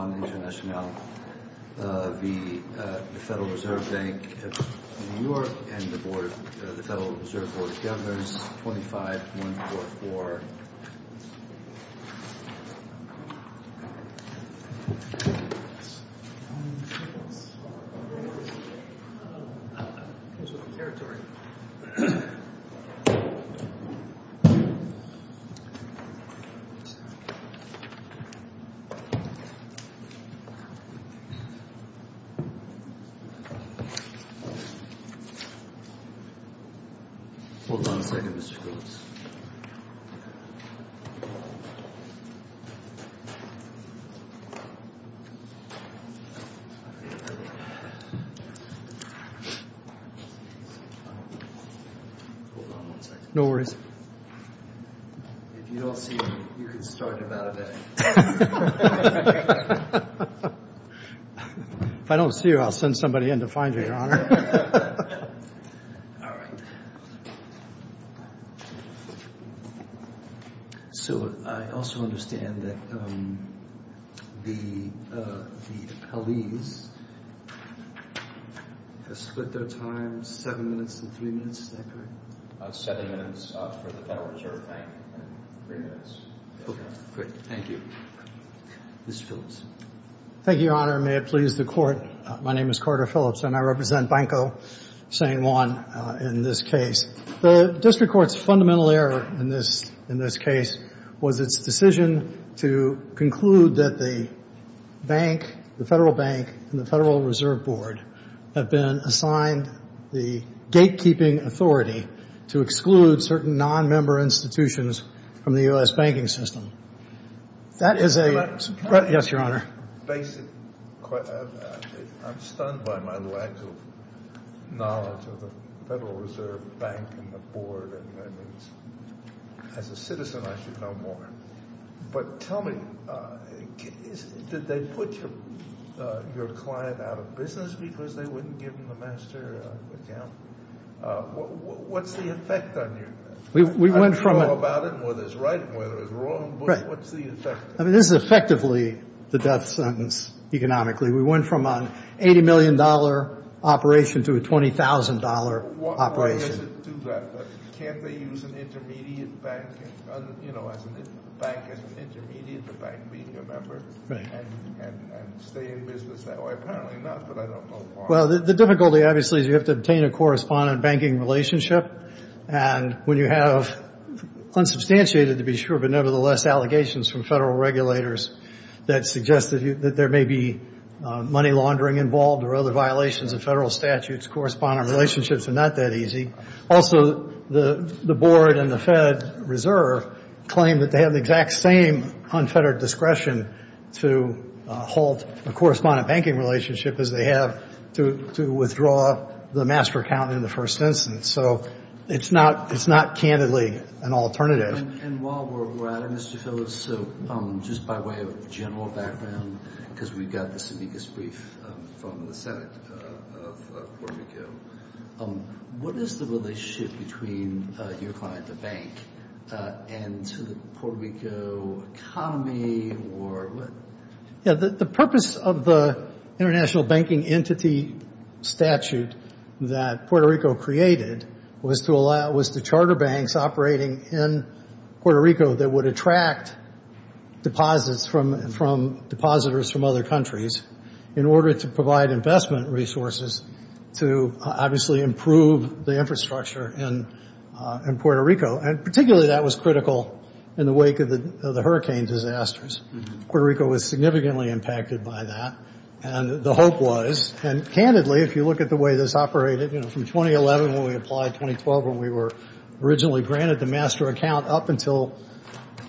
and the Federal Reserve Board of Governors, 25144. Hold on a second, Mr. Groves. Hold on one second. No worries. If I don't see you, I'll send somebody in to find you, Your Honor. So I also understand that the appellees have split their time seven minutes to three minutes, is that correct? Seven minutes for the Federal Reserve Bank, three minutes. Okay, great. Thank you. Mr. Phillips. Thank you, Your Honor. May it please the Court, my name is Carter Phillips and I represent Banco San Juan in this case. The district court's fundamental error in this case was its decision to conclude that the bank, the Federal Bank and the Federal Reserve Board have been assigned the gatekeeping authority to exclude certain nonmember institutions from the U.S. banking system. That is a... Yes, Your Honor. I'm stunned by my lack of knowledge of the Federal Reserve Bank and the board. As a citizen, I should know more. But tell me, did they put your client out of business because they wouldn't give him a master account? What's the effect on you? I don't know about it and whether it's right and whether it's wrong, but what's the effect? I mean, this is effectively the death sentence, economically. We went from an $80 million operation to a $20,000 operation. Why does it do that? Can't they use an intermediate bank, you know, as an intermediate, the bank being a member, and stay in business that way? Apparently not, but I don't know why. Well, the difficulty, obviously, is you have to obtain a correspondent banking relationship. And when you have unsubstantiated, to be sure, but nevertheless, allegations from Federal regulators that suggest that there may be money laundering involved or other violations of Federal statutes, correspondent relationships are not that easy. Also, the board and the Fed Reserve claim that they have the exact same unfettered discretion to halt a correspondent banking relationship as they have to withdraw the master account in the first instance. So it's not candidly an alternative. And while we're at it, Mr. Phillips, so just by way of general background, because we've got this amicus brief from the Senate of Puerto Rico, what is the relationship between your client, the bank, and to the Puerto Rico economy? The purpose of the international banking entity statute that Puerto Rico created was to charter banks operating in Puerto Rico that would attract deposits from other countries in order to provide investment resources to obviously improve the infrastructure in Puerto Rico. And particularly that was critical in the wake of the hurricane disasters. Puerto Rico was significantly impacted by that, and the hope was, and candidly, if you look at the way this operated, you know, from 2011 when we applied, 2012 when we were originally granted the master account up until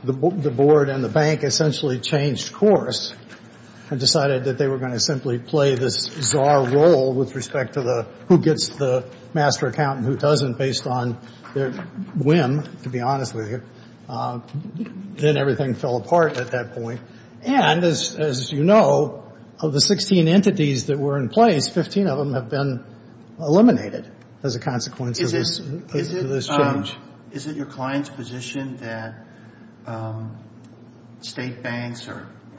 the board and the bank essentially changed course and decided that they were going to simply play this czar role with respect to the who gets the master account and who doesn't based on their whim, to be honest with you. Then everything fell apart at that point. And as you know, of the 16 entities that were in place, 15 of them have been eliminated as a consequence of this change. Is it your client's position that state banks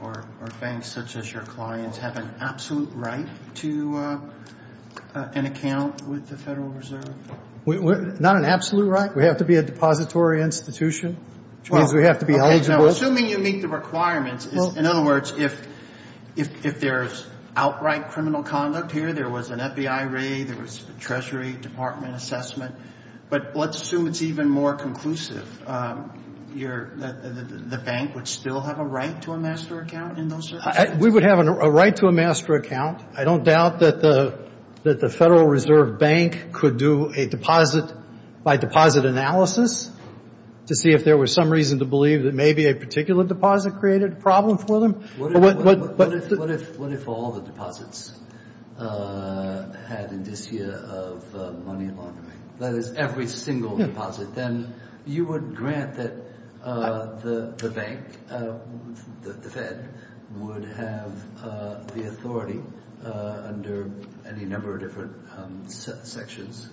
or banks such as your clients have an absolute right to an account with the Federal Reserve? Not an absolute right. We have to be a depository institution, which means we have to be eligible. Assuming you meet the requirements, in other words, if there's outright criminal conduct here, there was an FBI raid, there was a Treasury Department assessment, but let's assume it's even more conclusive. The bank would still have a right to a master account in those circumstances? We would have a right to a master account. I don't doubt that the Federal Reserve Bank could do a deposit-by-deposit analysis to see if there was some reason to believe that maybe a particular deposit created a problem for them. What if all the deposits had indicia of money laundering? That is, every single deposit. Then you would grant that the bank, the Fed, would have the authority under any number of different sections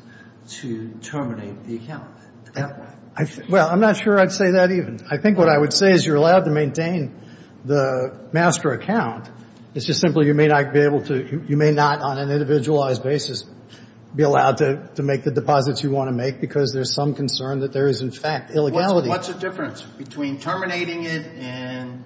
to terminate the account? Well, I'm not sure I'd say that even. I think what I would say is you're allowed to maintain the master account. It's just simply you may not be able to, you may not, on an individualized basis, be allowed to make the deposits you want to make because there's some concern that there is, in fact, illegality. What's the difference between terminating it and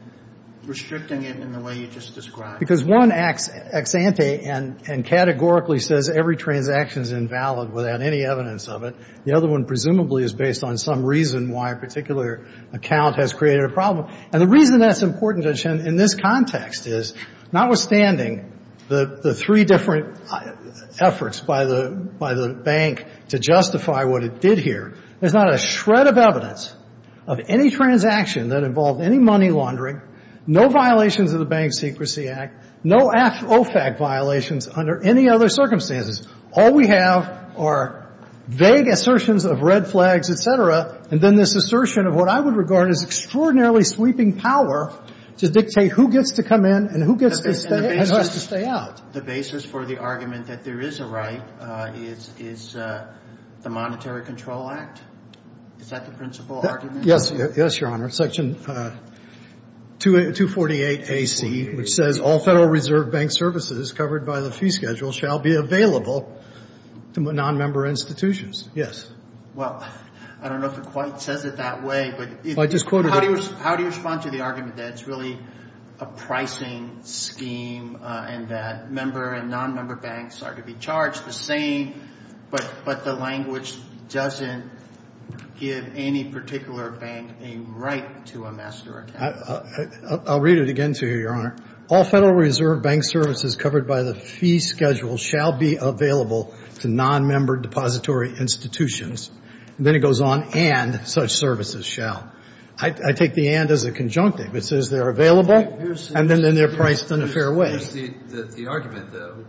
restricting it in the way you just described? Because one acts ex ante and categorically says every transaction is invalid without any evidence of it. The other one presumably is based on some reason why a particular account has created a problem. And the reason that's important, Judge Henn, in this context is, notwithstanding the three different efforts by the bank to justify what it did here, there's not a shred of evidence of any transaction that involved any money laundering, no violations of the Bank Secrecy Act, no OFAC violations under any other circumstances. All we have are vague assertions of red flags, et cetera, and then this assertion of what I would regard as extraordinarily sweeping power to dictate who gets to come in and who gets to stay and who has to stay out. The basis for the argument that there is a right is the Monetary Control Act. Is that the principal argument? Yes, Your Honor. Section 248AC, which says all Federal Reserve Bank services covered by the fee schedule shall be available to nonmember institutions. Yes. Well, I don't know if it quite says it that way. Well, I just quoted it. How do you respond to the argument that it's really a pricing scheme and that member and nonmember banks are to be charged the same, but the language doesn't give any particular bank a right to a master account? I'll read it again to you, Your Honor. All Federal Reserve Bank services covered by the fee schedule shall be available to nonmember depository institutions. And then it goes on, and such services shall. I take the and as a conjunctive. It says they're available, and then they're priced in a fair way. Here's the argument, though,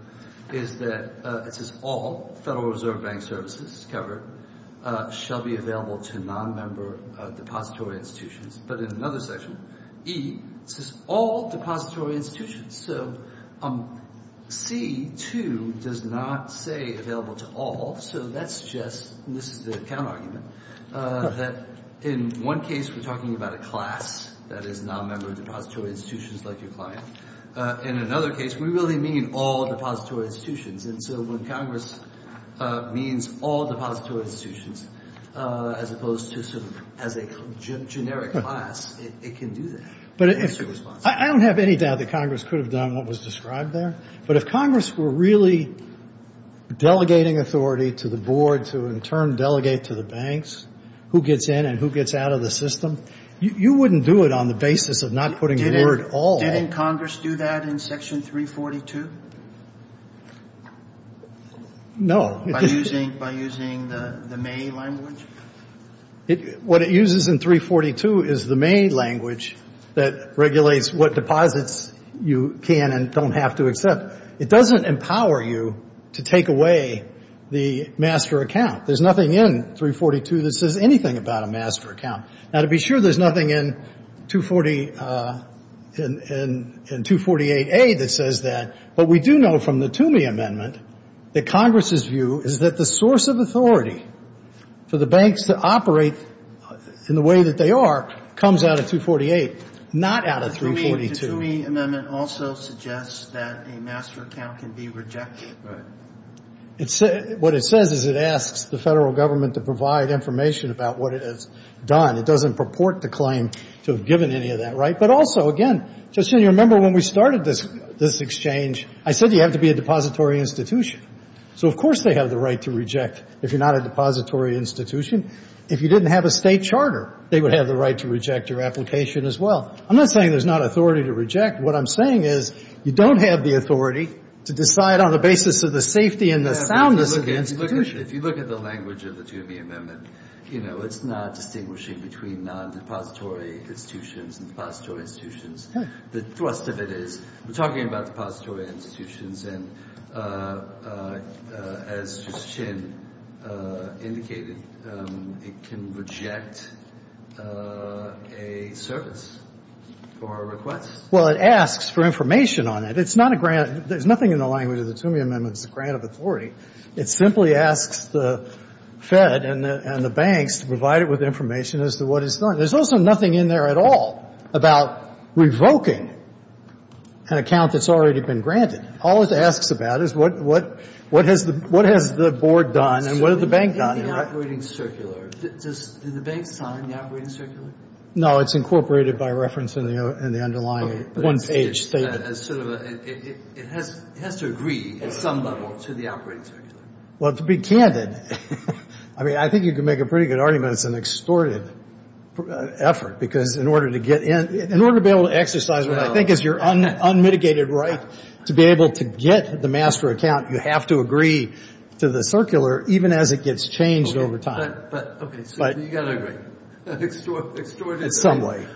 is that it says all Federal Reserve Bank services covered shall be available to nonmember depository institutions. But in another section, E, it says all depository institutions. So C, too, does not say available to all. So that suggests, and this is the account argument, that in one case we're talking about a class that is nonmember depository institutions like your client. In another case, we really mean all depository institutions. And so when Congress means all depository institutions, as opposed to sort of as a generic class, it can do that. But I don't have any doubt that Congress could have done what was described there. But if Congress were really delegating authority to the board to, in turn, delegate to the banks who gets in and who gets out of the system, you wouldn't do it on the basis of not putting the word all. Didn't Congress do that in Section 342? No. By using the May language? What it uses in 342 is the May language that regulates what deposits you can and don't have to accept. It doesn't empower you to take away the master account. There's nothing in 342 that says anything about a master account. Now, to be sure, there's nothing in 248A that says that. But we do know from the Toomey Amendment that Congress's view is that the source of authority for the banks to operate in the way that they are comes out of 248, not out of 342. The Toomey Amendment also suggests that a master account can be rejected. Right. What it says is it asks the federal government to provide information about what it has done. It doesn't purport to claim to have given any of that. But also, again, Justin, you remember when we started this exchange, I said you have to be a depository institution. So, of course, they have the right to reject if you're not a depository institution. If you didn't have a state charter, they would have the right to reject your application as well. I'm not saying there's not authority to reject. What I'm saying is you don't have the authority to decide on the basis of the safety and the soundness of the institution. If you look at the language of the Toomey Amendment, you know, it's not distinguishing between non-depository institutions and depository institutions. The thrust of it is we're talking about depository institutions and as Justice Chin indicated, it can reject a service or a request. Well, it asks for information on it. It's not a grant. There's nothing in the language of the Toomey Amendment that's a grant of authority. It simply asks the Fed and the banks to provide it with information as to what it's done. There's also nothing in there at all about revoking an account that's already been granted. All it asks about is what has the board done and what has the bank done. In the operating circular, does the bank sign the operating circular? No, it's incorporated by reference in the underlying one-page statement. It has to agree at some level to the operating circular. Well, to be candid, I mean, I think you could make a pretty good argument it's an extorted effort because in order to get in, in order to be able to exercise what I think is your unmitigated right to be able to get the master account, you have to agree to the circular even as it gets changed over time. But, okay, so you've got to agree. Extorted in some way.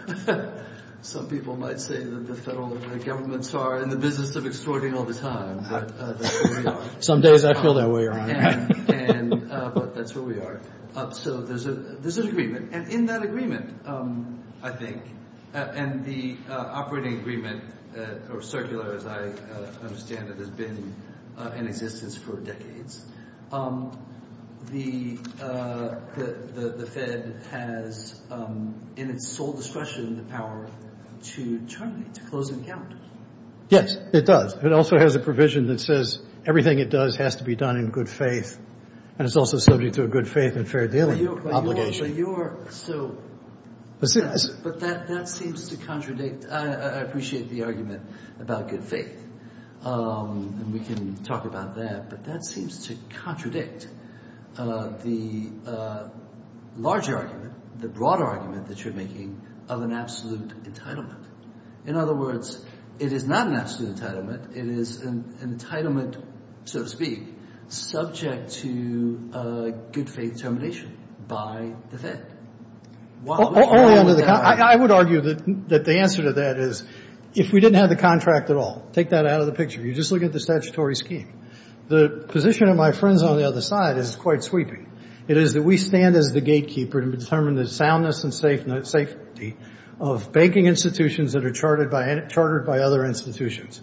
Some people might say that the federal governments are in the business of extorting all the time, but that's where we are. Some days I feel that way, Your Honor. But that's where we are. So there's an agreement. And in that agreement, I think, and the operating agreement or circular, as I understand it, has been in existence for decades. The Fed has in its sole discretion the power to terminate, to close an account. Yes, it does. It also has a provision that says everything it does has to be done in good faith, and it's also subject to a good faith and fair dealing obligation. But that seems to contradict. I appreciate the argument about good faith, and we can talk about that, but that seems to contradict the large argument, the broad argument that you're making, of an absolute entitlement. In other words, it is not an absolute entitlement. It is an entitlement, so to speak, subject to a good faith termination by the Fed. I would argue that the answer to that is if we didn't have the contract at all, take that out of the picture, you just look at the statutory scheme. The position of my friends on the other side is quite sweeping. It is that we stand as the gatekeeper to determine the soundness and safety of banking institutions that are chartered by other institutions,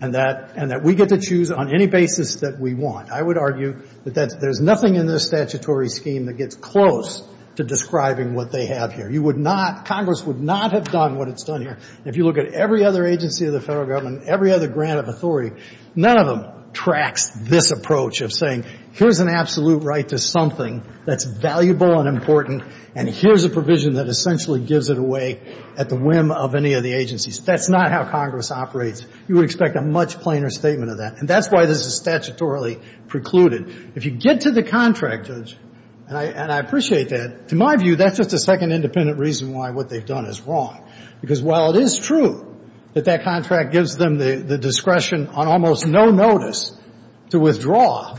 and that we get to choose on any basis that we want. I would argue that there's nothing in this statutory scheme that gets close to describing what they have here. You would not, Congress would not have done what it's done here. If you look at every other agency of the federal government, every other grant of authority, none of them tracks this approach of saying here's an absolute right to something that's valuable and important, and here's a provision that essentially gives it away at the whim of any of the agencies. That's not how Congress operates. You would expect a much plainer statement of that. And that's why this is statutorily precluded. If you get to the contract, Judge, and I appreciate that, to my view, that's just a second independent reason why what they've done is wrong. Because while it is true that that contract gives them the discretion on almost no notice to withdraw,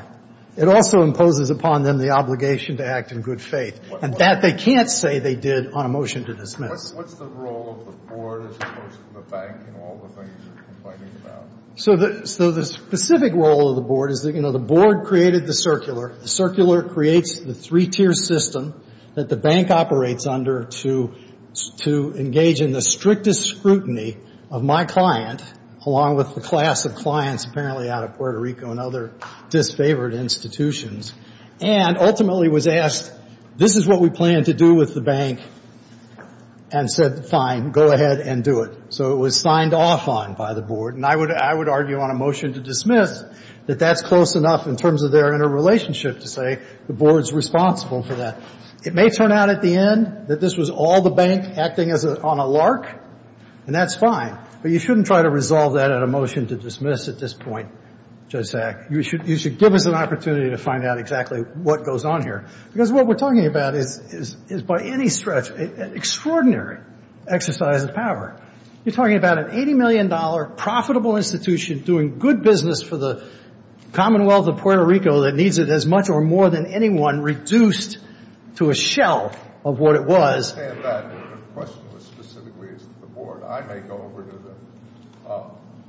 it also imposes upon them the obligation to act in good faith. And that they can't say they did on a motion to dismiss. What's the role of the board as opposed to the bank and all the things you're complaining about? So the specific role of the board is that, you know, the board created the circular. The circular creates the three-tier system that the bank operates under to engage in the strictest scrutiny of my client, along with the class of clients apparently out of Puerto Rico and other disfavored institutions. And ultimately was asked, this is what we plan to do with the bank, and said, fine, go ahead and do it. So it was signed off on by the board. And I would argue on a motion to dismiss that that's close enough in terms of their interrelationship to say the board's responsible for that. It may turn out at the end that this was all the bank acting on a lark, and that's fine. But you shouldn't try to resolve that at a motion to dismiss at this point, Judge Sack. You should give us an opportunity to find out exactly what goes on here. Because what we're talking about is by any stretch an extraordinary exercise of power. You're talking about an $80 million profitable institution doing good business for the Commonwealth of Puerto Rico that needs it as much or more than anyone, reduced to a shell of what it was. I understand that. The question was specifically as to the board. I may go over to the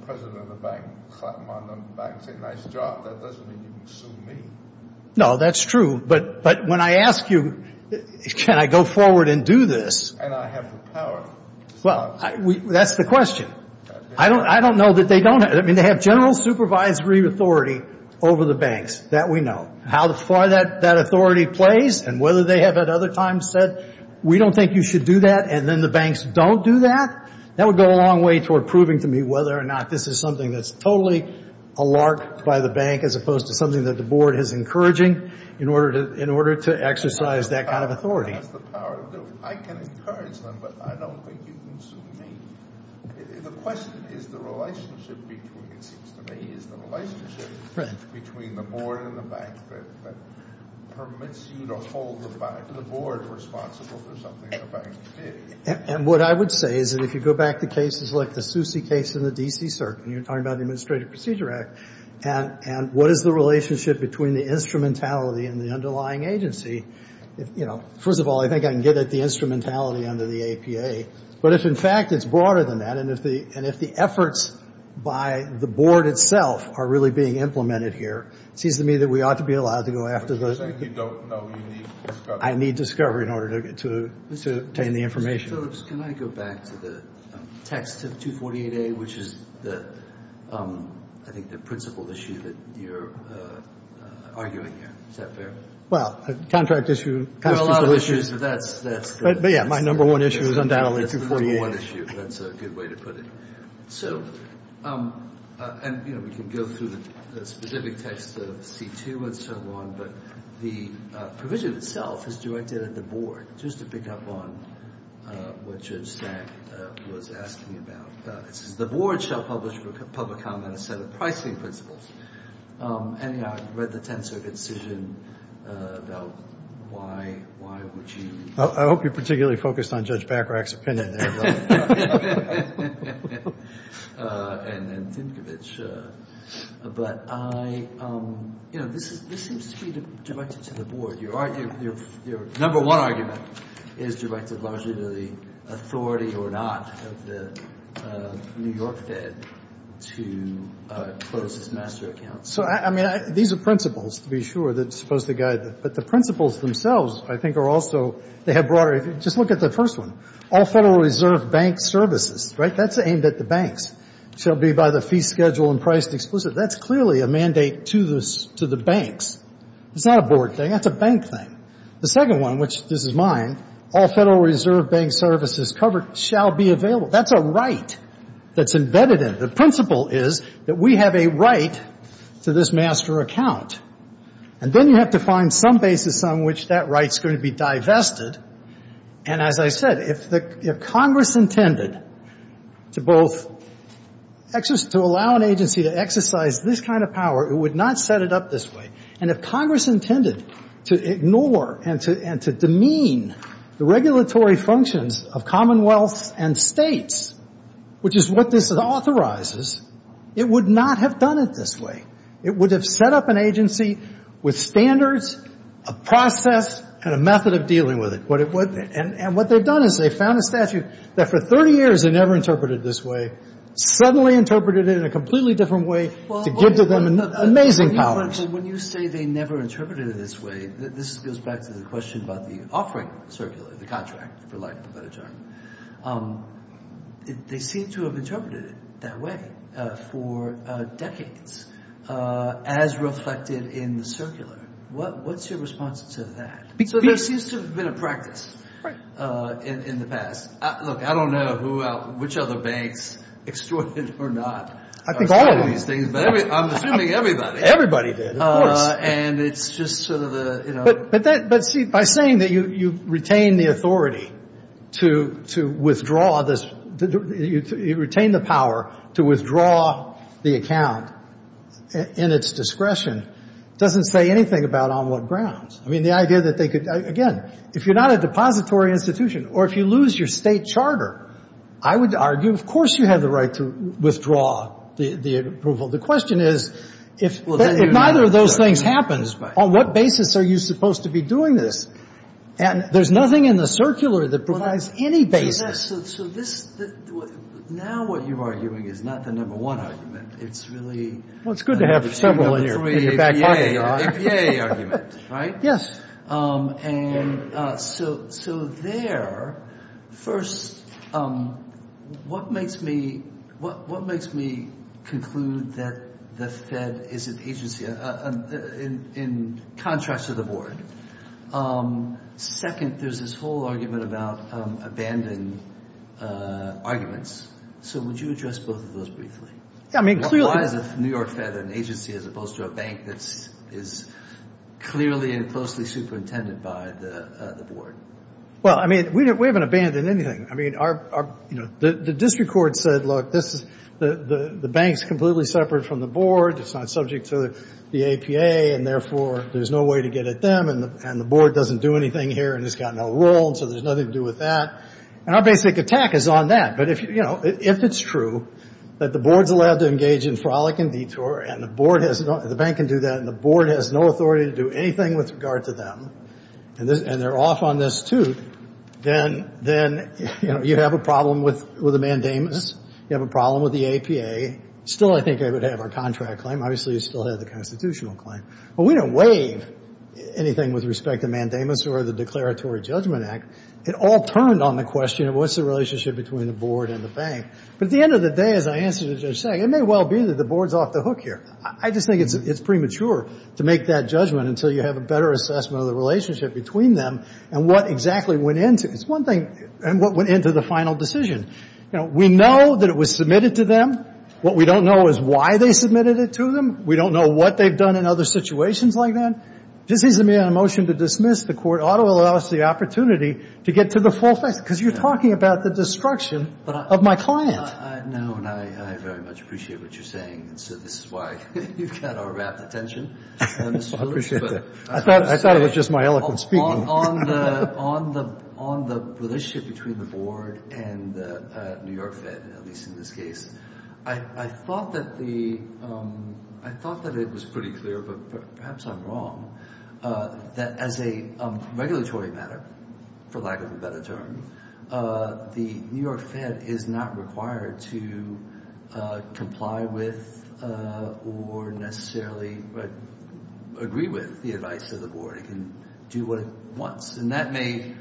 president of the bank, clap him on the back and say, nice job. That doesn't mean you can sue me. No, that's true. But when I ask you, can I go forward and do this? And I have the power. Well, that's the question. I don't know that they don't. I mean, they have general supervisory authority over the banks. That we know. How far that authority plays and whether they have at other times said, we don't think you should do that, and then the banks don't do that. That would go a long way toward proving to me whether or not this is something that's totally a lark by the bank as opposed to something that the board is encouraging in order to exercise that kind of authority. That's the power to do. I can encourage them, but I don't think you can sue me. The question is the relationship between, it seems to me, between the board and the bank that permits you to hold the board responsible for something the bank did. And what I would say is that if you go back to cases like the Suse case in the D.C. Circuit, and you're talking about the Administrative Procedure Act, and what is the relationship between the instrumentality and the underlying agency? First of all, I think I can get at the instrumentality under the APA. But if, in fact, it's broader than that, and if the efforts by the board itself are really being implemented here, it seems to me that we ought to be allowed to go after those. But you're saying you don't know. You need discovery. I need discovery in order to obtain the information. Mr. Phillips, can I go back to the text of 248A, which is, I think, the principal issue that you're arguing here? Is that fair? Well, contract issue, constitutional issues. But, yeah, my number one issue is undoubtedly 248. That's the number one issue. That's a good way to put it. So, and, you know, we can go through the specific text of C2 and so on, but the provision itself is directed at the board. Just to pick up on what Judge Stack was asking about, it says the board shall publish for public comment a set of pricing principles. And, you know, I've read the Tenth Circuit decision about why would you... I hope you're particularly focused on Judge Bacharach's opinion there. And then Tinkovich. But I, you know, this seems to be directed to the board. Your number one argument is directed largely to the authority or not of the New York Fed to close its master account. So, I mean, these are principles, to be sure, that are supposed to guide... But the principles themselves, I think, are also... They have broader... Just look at the first one. All Federal Reserve Bank services. Right? That's aimed at the banks. Shall be by the fee schedule and priced explicitly. That's clearly a mandate to the banks. It's not a board thing. That's a bank thing. The second one, which, this is mine. All Federal Reserve Bank services covered shall be available. That's a right that's embedded in it. The principle is that we have a right to this master account. And then you have to find some basis on which that right's going to be divested. And as I said, if Congress intended to both allow an agency to exercise this kind of power, it would not set it up this way. And if Congress intended to ignore and to demean the regulatory functions of commonwealths and states, which is what this authorizes, it would not have done it this way. It would have set up an agency with standards, a process, and a method of dealing with it. And what they've done is they've found a statute that for 30 years they never interpreted this way, suddenly interpreted it in a completely different way to give to them amazing powers. When you say they never interpreted it this way, this goes back to the question about the offering circular, the contract, for lack of a better term. They seem to have interpreted it that way for decades as reflected in the circular. What's your response to that? Because there seems to have been a practice in the past. Look, I don't know which other banks extorted it or not. I think all of them. I'm assuming everybody. Everybody did, of course. And it's just sort of the, you know. But, see, by saying that you retain the authority to withdraw this, you retain the power to withdraw the account in its discretion doesn't say anything about on what grounds. I mean, the idea that they could, again, if you're not a depository institution or if you lose your state charter, I would argue of course you have the right to withdraw the approval. The question is if neither of those things happens, on what basis are you supposed to be doing this? And there's nothing in the circular that provides any basis. So this, now what you're arguing is not the number one argument. It's really. Well, it's good to have several in your back pocket. The APA argument, right? Yes. And so there, first, what makes me conclude that the Fed is an agency in contrast to the board? Second, there's this whole argument about abandoned arguments. So would you address both of those briefly? Why is the New York Fed an agency as opposed to a bank that is clearly and closely superintended by the board? Well, I mean, we haven't abandoned anything. I mean, the district court said, look, the bank's completely separate from the board. It's not subject to the APA, and therefore there's no way to get at them, and the board doesn't do anything here and it's got no role, and so there's nothing to do with that. And our basic attack is on that. But, you know, if it's true that the board's allowed to engage in frolic and detour, and the bank can do that and the board has no authority to do anything with regard to them, and they're off on this too, then, you know, you have a problem with the mandamus. You have a problem with the APA. Still, I think, I would have our contract claim. Obviously, you still have the constitutional claim. But we don't waive anything with respect to mandamus or the Declaratory Judgment Act. It all turned on the question of what's the relationship between the board and the bank. But at the end of the day, as I answered the judge saying, it may well be that the board's off the hook here. I just think it's premature to make that judgment until you have a better assessment of the relationship between them and what exactly went into it. It's one thing, and what went into the final decision. You know, we know that it was submitted to them. What we don't know is why they submitted it to them. We don't know what they've done in other situations like that. Just easing me on a motion to dismiss the court ought to allow us the opportunity to get to the full facts, because you're talking about the destruction of my client. I know, and I very much appreciate what you're saying. And so this is why you've got our rapt attention. I appreciate that. I thought it was just my eloquent speaking. On the relationship between the board and New York Fed, at least in this case, I thought that it was pretty clear, but perhaps I'm wrong, that as a regulatory matter, for lack of a better term, the New York Fed is not required to comply with or necessarily agree with the advice of the board. It can do what it wants. And that may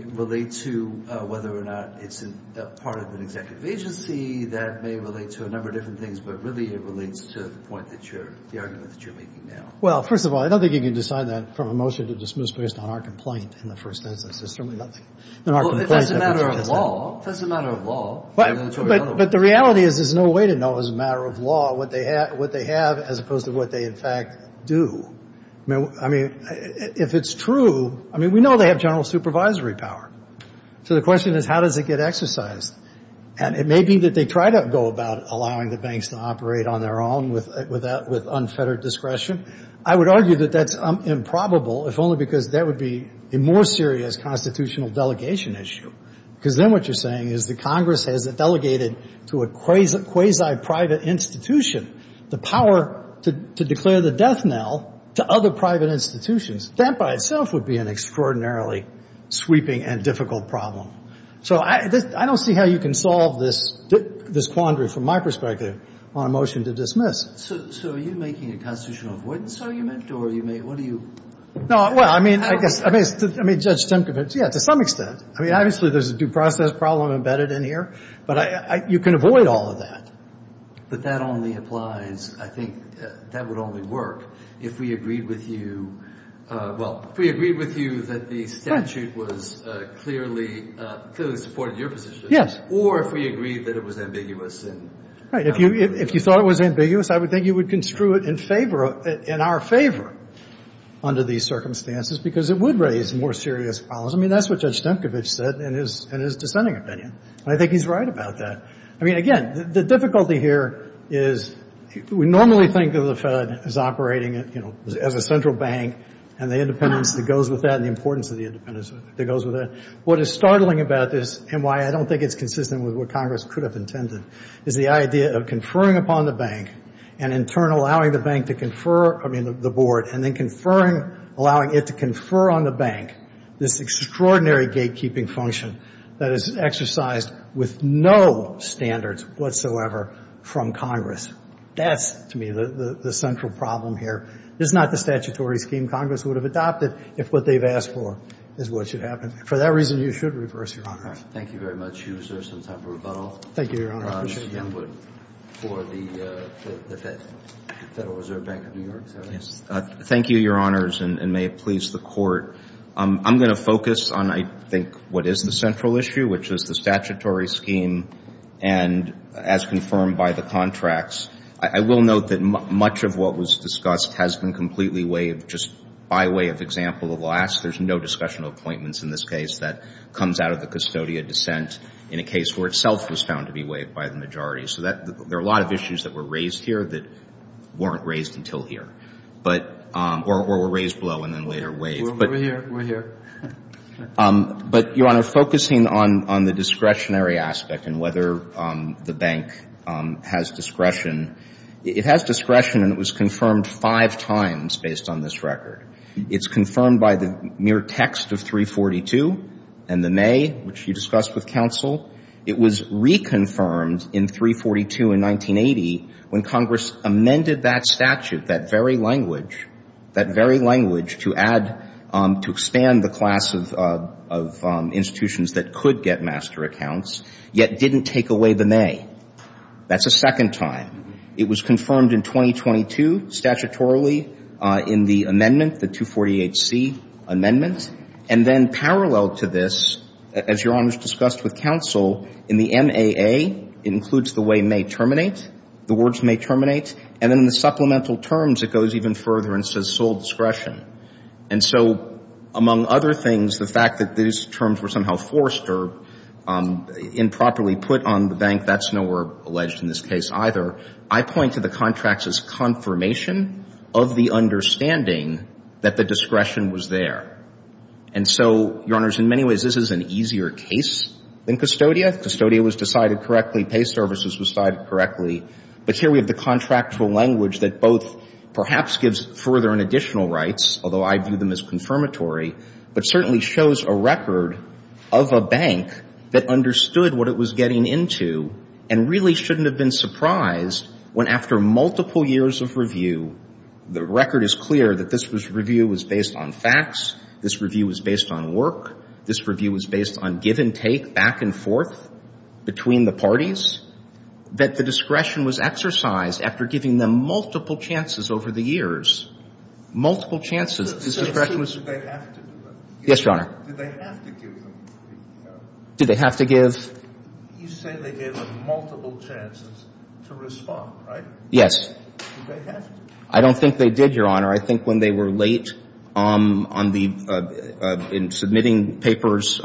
relate to whether or not it's part of an executive agency. That may relate to a number of different things, but really it relates to the argument that you're making now. Well, first of all, I don't think you can decide that from a motion to dismiss based on our complaint in the first instance. There's certainly nothing. It's a matter of law. It's a matter of law. But the reality is there's no way to know as a matter of law what they have as opposed to what they, in fact, do. I mean, if it's true, I mean, we know they have general supervisory power. So the question is, how does it get exercised? And it may be that they try to go about allowing the banks to operate on their own with unfettered discretion. I would argue that that's improbable, if only because that would be a more serious constitutional delegation issue, because then what you're saying is the Congress has delegated to a quasi-private institution the power to declare the death knell to other private institutions. That by itself would be an extraordinarily sweeping and difficult problem. So I don't see how you can solve this quandary, from my perspective, on a motion to dismiss. So are you making a constitutional avoidance argument, or are you making – what are you – No, well, I mean, I guess – I mean, Judge Simkovitch, yeah, to some extent. I mean, obviously there's a due process problem embedded in here, but you can avoid all of that. But that only applies – I think that would only work if we agreed with you – well, if we agreed with you that the statute was clearly – clearly supported your position. Or if we agreed that it was ambiguous. Right. If you thought it was ambiguous, I would think you would construe it in favor – in our favor under these circumstances, because it would raise more serious problems. I mean, that's what Judge Simkovitch said in his dissenting opinion. And I think he's right about that. I mean, again, the difficulty here is we normally think of the Fed as operating, you know, as a central bank, and the independence that goes with that, and the importance of the independence that goes with that. What is startling about this, and why I don't think it's consistent with what Congress could have intended, is the idea of conferring upon the bank, and in turn allowing the bank to confer – I mean, the board, and then conferring – allowing it to confer on the bank this extraordinary gatekeeping function that is exercised with no standards whatsoever from Congress. That's, to me, the central problem here. It's not the statutory scheme Congress would have adopted if what they've asked for is what should happen. For that reason, you should reverse, Your Honor. Thank you very much, Hughes. There's some time for rebuttal. Thank you, Your Honor. Mr. Youngwood for the Federal Reserve Bank of New York. Thank you, Your Honors, and may it please the Court. I'm going to focus on, I think, what is the central issue, which is the statutory scheme, and as confirmed by the contracts, I will note that much of what was discussed has been completely waived just by way of example of last. There's no discussion of appointments in this case. That comes out of the custodial dissent in a case where itself was found to be waived by the majority. So there are a lot of issues that were raised here that weren't raised until here, or were raised below and then later waived. We're here. But, Your Honor, focusing on the discretionary aspect and whether the bank has discretion, it has discretion and it was confirmed five times based on this record. It's confirmed by the mere text of 342 and the May, which you discussed with counsel. It was reconfirmed in 342 in 1980 when Congress amended that statute, that very language, that very language to add, to expand the class of institutions that could get master accounts, yet didn't take away the May. That's a second time. It was confirmed in 2022 statutorily in the amendment, the 248C amendment, and then parallel to this, as Your Honor's discussed with counsel, in the MAA, it includes the way may terminate, the words may terminate, and in the supplemental terms it goes even further and says sole discretion. And so among other things, the fact that these terms were somehow forced or improperly put on the bank, that's nowhere alleged in this case either. I point to the contracts as confirmation of the understanding that the discretion was there. And so, Your Honors, in many ways this is an easier case than custodia. Custodia was decided correctly. Pay services was decided correctly. But here we have the contractual language that both perhaps gives further and additional rights, although I view them as confirmatory, but certainly shows a record of a bank that understood what it was getting into and really shouldn't have been surprised when after multiple years of review, the record is clear that this review was based on facts, this review was based on work, this review was based on give and take back and forth between the parties, that the discretion was exercised after giving them multiple chances over the years. Multiple chances. This discretion was. Yes, Your Honor. Did they have to give them? Did they have to give? You say they gave them multiple chances to respond, right? Yes. Did they have to? I don't think they did, Your Honor. I think when they were late on the, in submitting papers,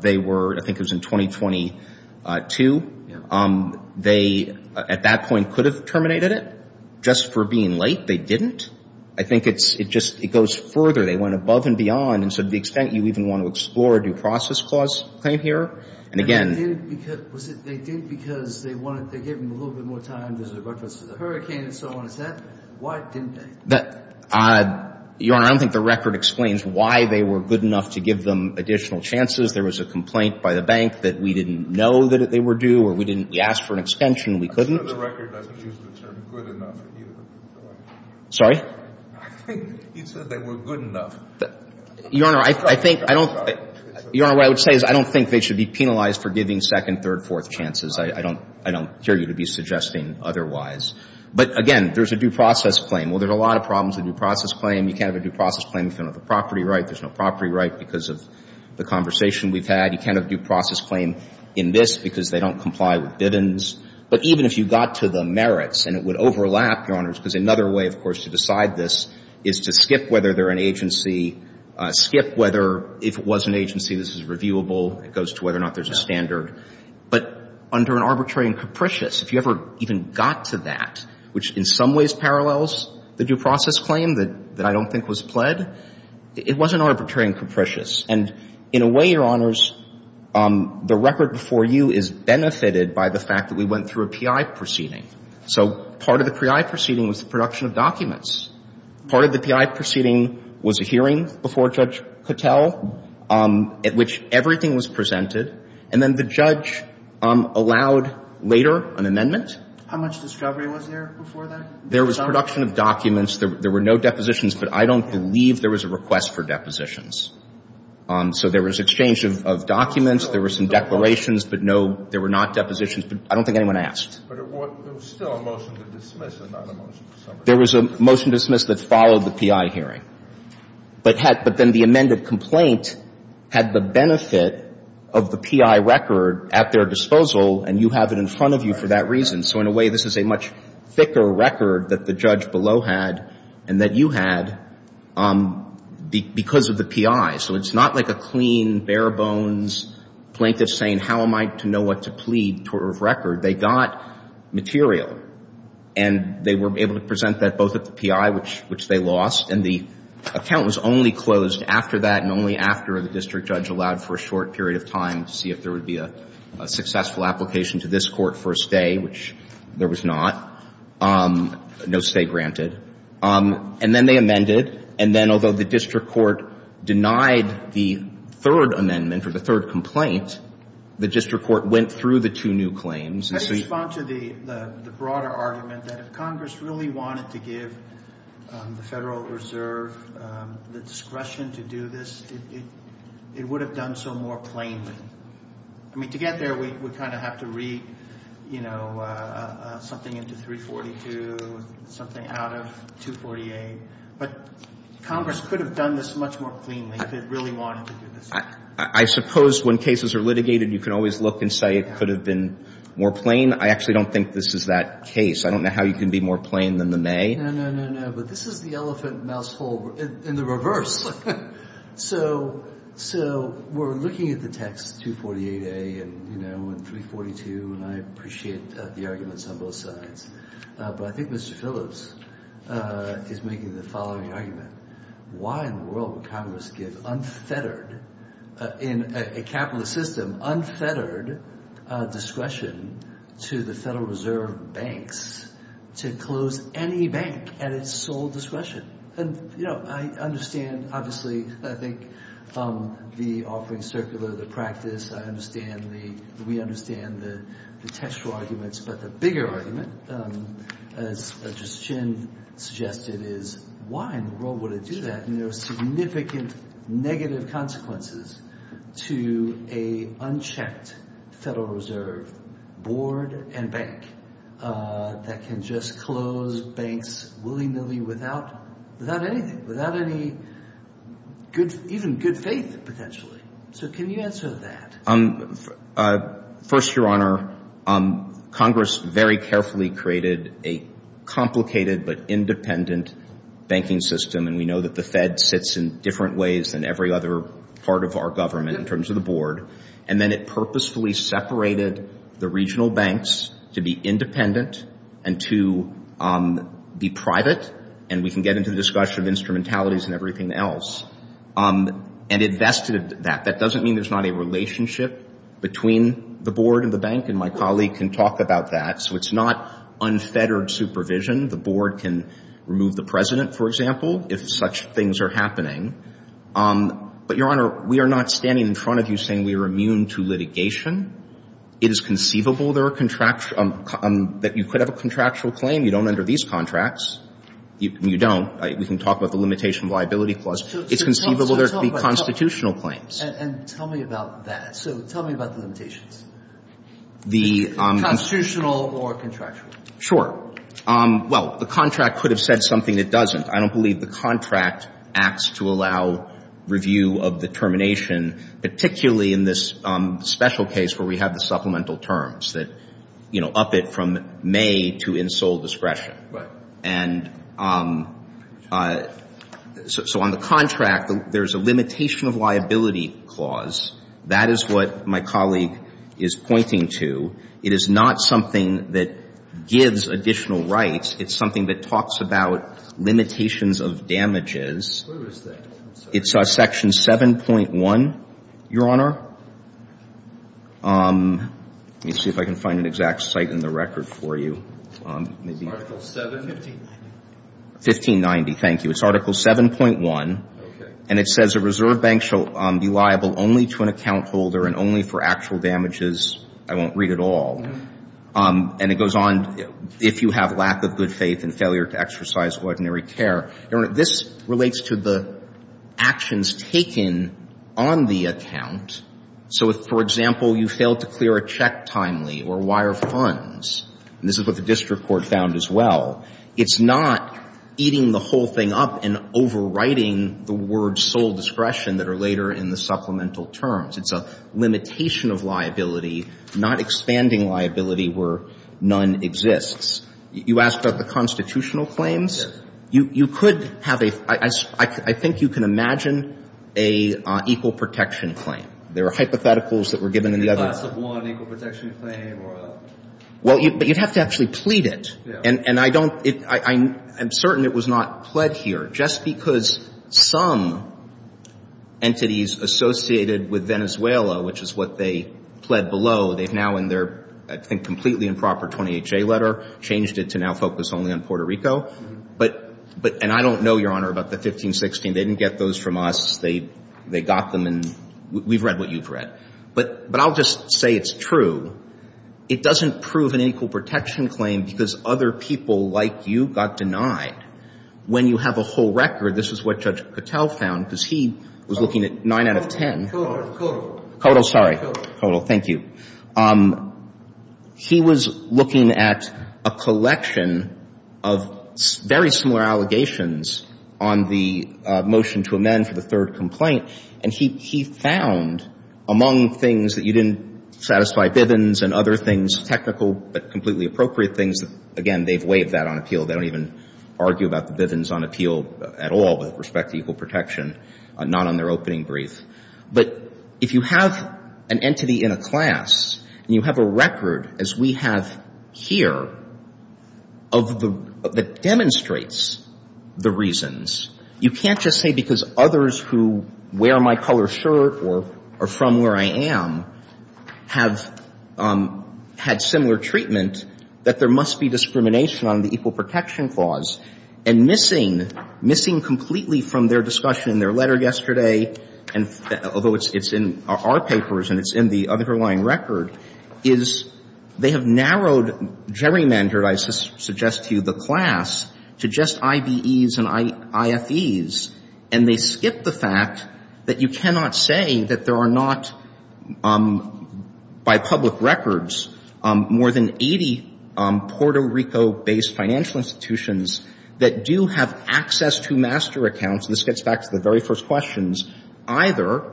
they were, I think it was in 2022. Yeah. They, at that point, could have terminated it. Just for being late, they didn't. I think it's, it just, it goes further. They went above and beyond and to the extent you even want to explore a due process clause claim here. And again. They did because they wanted, they gave them a little bit more time as a reference to the hurricane and so on and so forth. Why didn't they? Your Honor, I don't think the record explains why they were good enough to give them additional chances. There was a complaint by the bank that we didn't know that they were due or we didn't, we asked for an extension and we couldn't. I'm sure the record doesn't use the term good enough either. Sorry? I think he said they were good enough. Your Honor, I think, I don't, Your Honor, what I would say is I don't think they should be penalized for giving second, third, fourth chances. I don't, I don't hear you to be suggesting otherwise. But again, there's a due process claim. Well, there's a lot of problems with due process claim. You can't have a due process claim if you don't have the property right. There's no property right because of the conversation we've had. You can't have a due process claim in this because they don't comply with biddings. But even if you got to the merits and it would overlap, Your Honor, because another way, of course, to decide this is to skip whether they're an agency, skip whether if it was an agency this is reviewable, it goes to whether or not there's a standard. But under an arbitrary and capricious, if you ever even got to that, which in some ways parallels the due process claim that I don't think was pled, it wasn't arbitrary and capricious. And in a way, Your Honors, the record before you is benefited by the fact that we went through a PI proceeding. So part of the PI proceeding was the production of documents. Part of the PI proceeding was a hearing before Judge Cattell at which everything was presented. And then the judge allowed later an amendment. How much discovery was there before that? There was production of documents. There were no depositions. But I don't believe there was a request for depositions. So there was exchange of documents. There were some declarations. But no, there were not depositions. I don't think anyone asked. But it was still a motion to dismiss and not a motion to submit. There was a motion to dismiss that followed the PI hearing. But then the amended complaint had the benefit of the PI record at their disposal, and you have it in front of you for that reason. So in a way, this is a much thicker record that the judge below had and that you had because of the PI. So it's not like a clean, bare-bones plaintiff saying, how am I to know what to plead for a record? They got material. And they were able to present that both at the PI, which they lost. And the account was only closed after that and only after the district judge allowed for a short period of time to see if there would be a successful application to this court for a stay, which there was not, no stay granted. And then they amended. And then although the district court denied the third amendment or the third complaint, the district court went through the two new claims. Let me respond to the broader argument that if Congress really wanted to give the Federal Reserve the discretion to do this, it would have done so more plainly. I mean, to get there, we kind of have to read, you know, something into 342, something out of 248. But Congress could have done this much more plainly if it really wanted to do this. I suppose when cases are litigated, you can always look and say it could have been more plain. I actually don't think this is that case. I don't know how you can be more plain than the May. No, no, no, no. But this is the elephant in the reverse. So we're looking at the text 248A and, you know, and 342. And I appreciate the arguments on both sides. But I think Mr. Phillips is making the following argument. Why in the world would Congress give unfettered, in a capitalist system, unfettered discretion to the Federal Reserve banks to close any bank at its sole discretion? And, you know, I understand, obviously, I think, the offering circular, the practice. I understand the we understand the textual arguments. But the bigger argument, as Justice Chin suggested, is why in the world would it do that? And there are significant negative consequences to an unchecked Federal Reserve board and bank that can just close banks willy-nilly without anything, without any good, even good faith, potentially. So can you answer that? First, Your Honor, Congress very carefully created a complicated but independent banking system. And we know that the Fed sits in different ways than every other part of our government in terms of the board. And then it purposefully separated the regional banks to be independent and to be private, and we can get into the discussion of instrumentalities and everything else, and invested that. That doesn't mean there's not a relationship between the board and the bank. And my colleague can talk about that. So it's not unfettered supervision. The board can remove the President, for example, if such things are happening. But, Your Honor, we are not standing in front of you saying we are immune to litigation. It is conceivable there are contractual – that you could have a contractual claim. You don't under these contracts. You don't. We can talk about the limitation of liability clause. It's conceivable there could be constitutional claims. And tell me about that. So tell me about the limitations. The – Constitutional or contractual. Sure. Well, the contract could have said something it doesn't. I don't believe the contract acts to allow review of the termination, particularly in this special case where we have the supplemental terms that, you know, up it from May to in sole discretion. Right. And so on the contract, there's a limitation of liability clause. That is what my colleague is pointing to. It is not something that gives additional rights. It's something that talks about limitations of damages. What is that? It's Section 7.1, Your Honor. Let me see if I can find an exact site in the record for you. Article 7. 1590. 1590. Thank you. It's Article 7.1. Okay. And it says a reserve bank shall be liable only to an account holder and only for actual damages. I won't read it all. And it goes on, if you have lack of good faith and failure to exercise ordinary care. Your Honor, this relates to the actions taken on the account. So, for example, you failed to clear a check timely or wire funds. This is what the district court found as well. It's not eating the whole thing up and overwriting the words sole discretion that are later in the supplemental terms. It's a limitation of liability, not expanding liability where none exists. You asked about the constitutional claims. You could have a, I think you can imagine a equal protection claim. There are hypotheticals that were given in the other. A class of one equal protection claim or a. Well, but you'd have to actually plead it. Yeah. And I don't, I'm certain it was not pled here. Just because some entities associated with Venezuela, which is what they pled below, they've now in their, I think, completely improper 28-J letter changed it to now focus only on Puerto Rico. But, and I don't know, Your Honor, about the 15-16. They didn't get those from us. They got them and we've read what you've read. But I'll just say it's true. It doesn't prove an equal protection claim because other people like you got denied. When you have a whole record, this is what Judge Patel found because he was looking at 9 out of 10. Codal. Codal. Codal. Sorry. Codal. Thank you. He was looking at a collection of very similar allegations on the motion to amend for the third complaint, and he found among things that you didn't satisfy Bivens and other things, technical but completely appropriate things, again, they've waived that on appeal. They don't even argue about the Bivens on appeal at all with respect to equal protection, not on their opening brief. But if you have an entity in a class and you have a record, as we have here, that demonstrates the reasons, you can't just say because others who wear my color shirt or are from where I am have had similar treatment that there must be discrimination on the equal protection clause. And missing, missing completely from their discussion in their letter yesterday, although it's in our papers and it's in the underlying record, is they have narrowed gerrymandered, I suggest to you, the class to just IBEs and IFEs, and they skip the fact that you cannot say that there are not, by public records, more than 80 Puerto Rico-based financial institutions that do have access to master accounts. This gets back to the very first questions. Either,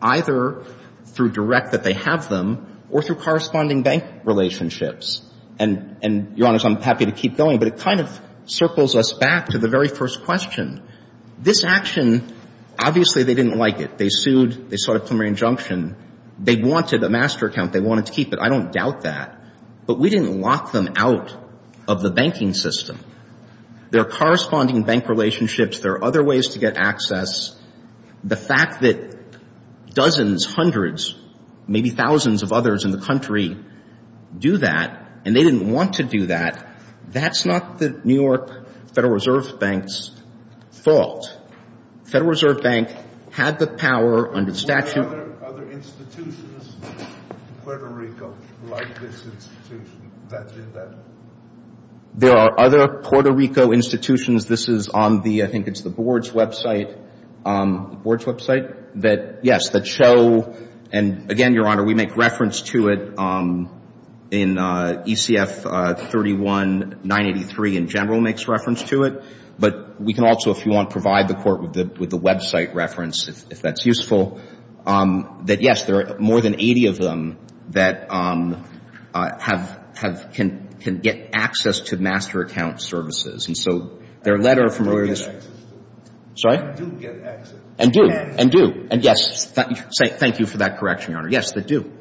either through direct that they have them or through corresponding bank relationships. And, Your Honors, I'm happy to keep going, but it kind of circles us back to the very first question. This action, obviously, they didn't like it. They sued. They sought a preliminary injunction. They wanted a master account. They wanted to keep it. I don't doubt that. But we didn't lock them out of the banking system. There are corresponding bank relationships. There are other ways to get access. The fact that dozens, hundreds, maybe thousands of others in the country do that, and they didn't want to do that, that's not the New York Federal Reserve Bank's fault. Federal Reserve Bank had the power under statute. Are there other institutions in Puerto Rico like this institution that did that? There are other Puerto Rico institutions. This is on the, I think it's the board's website, the board's website, that, yes, that show, and again, Your Honor, we make reference to it in ECF 31-983 in general makes reference to it. But we can also, if you want, provide the court with the website reference, if that's useful, that, yes, there are more than 80 of them that have, can get access to master account services. And so their letter from where this. Sorry? And do get access. And do. And do. And yes, thank you for that correction, Your Honor. Yes, they do.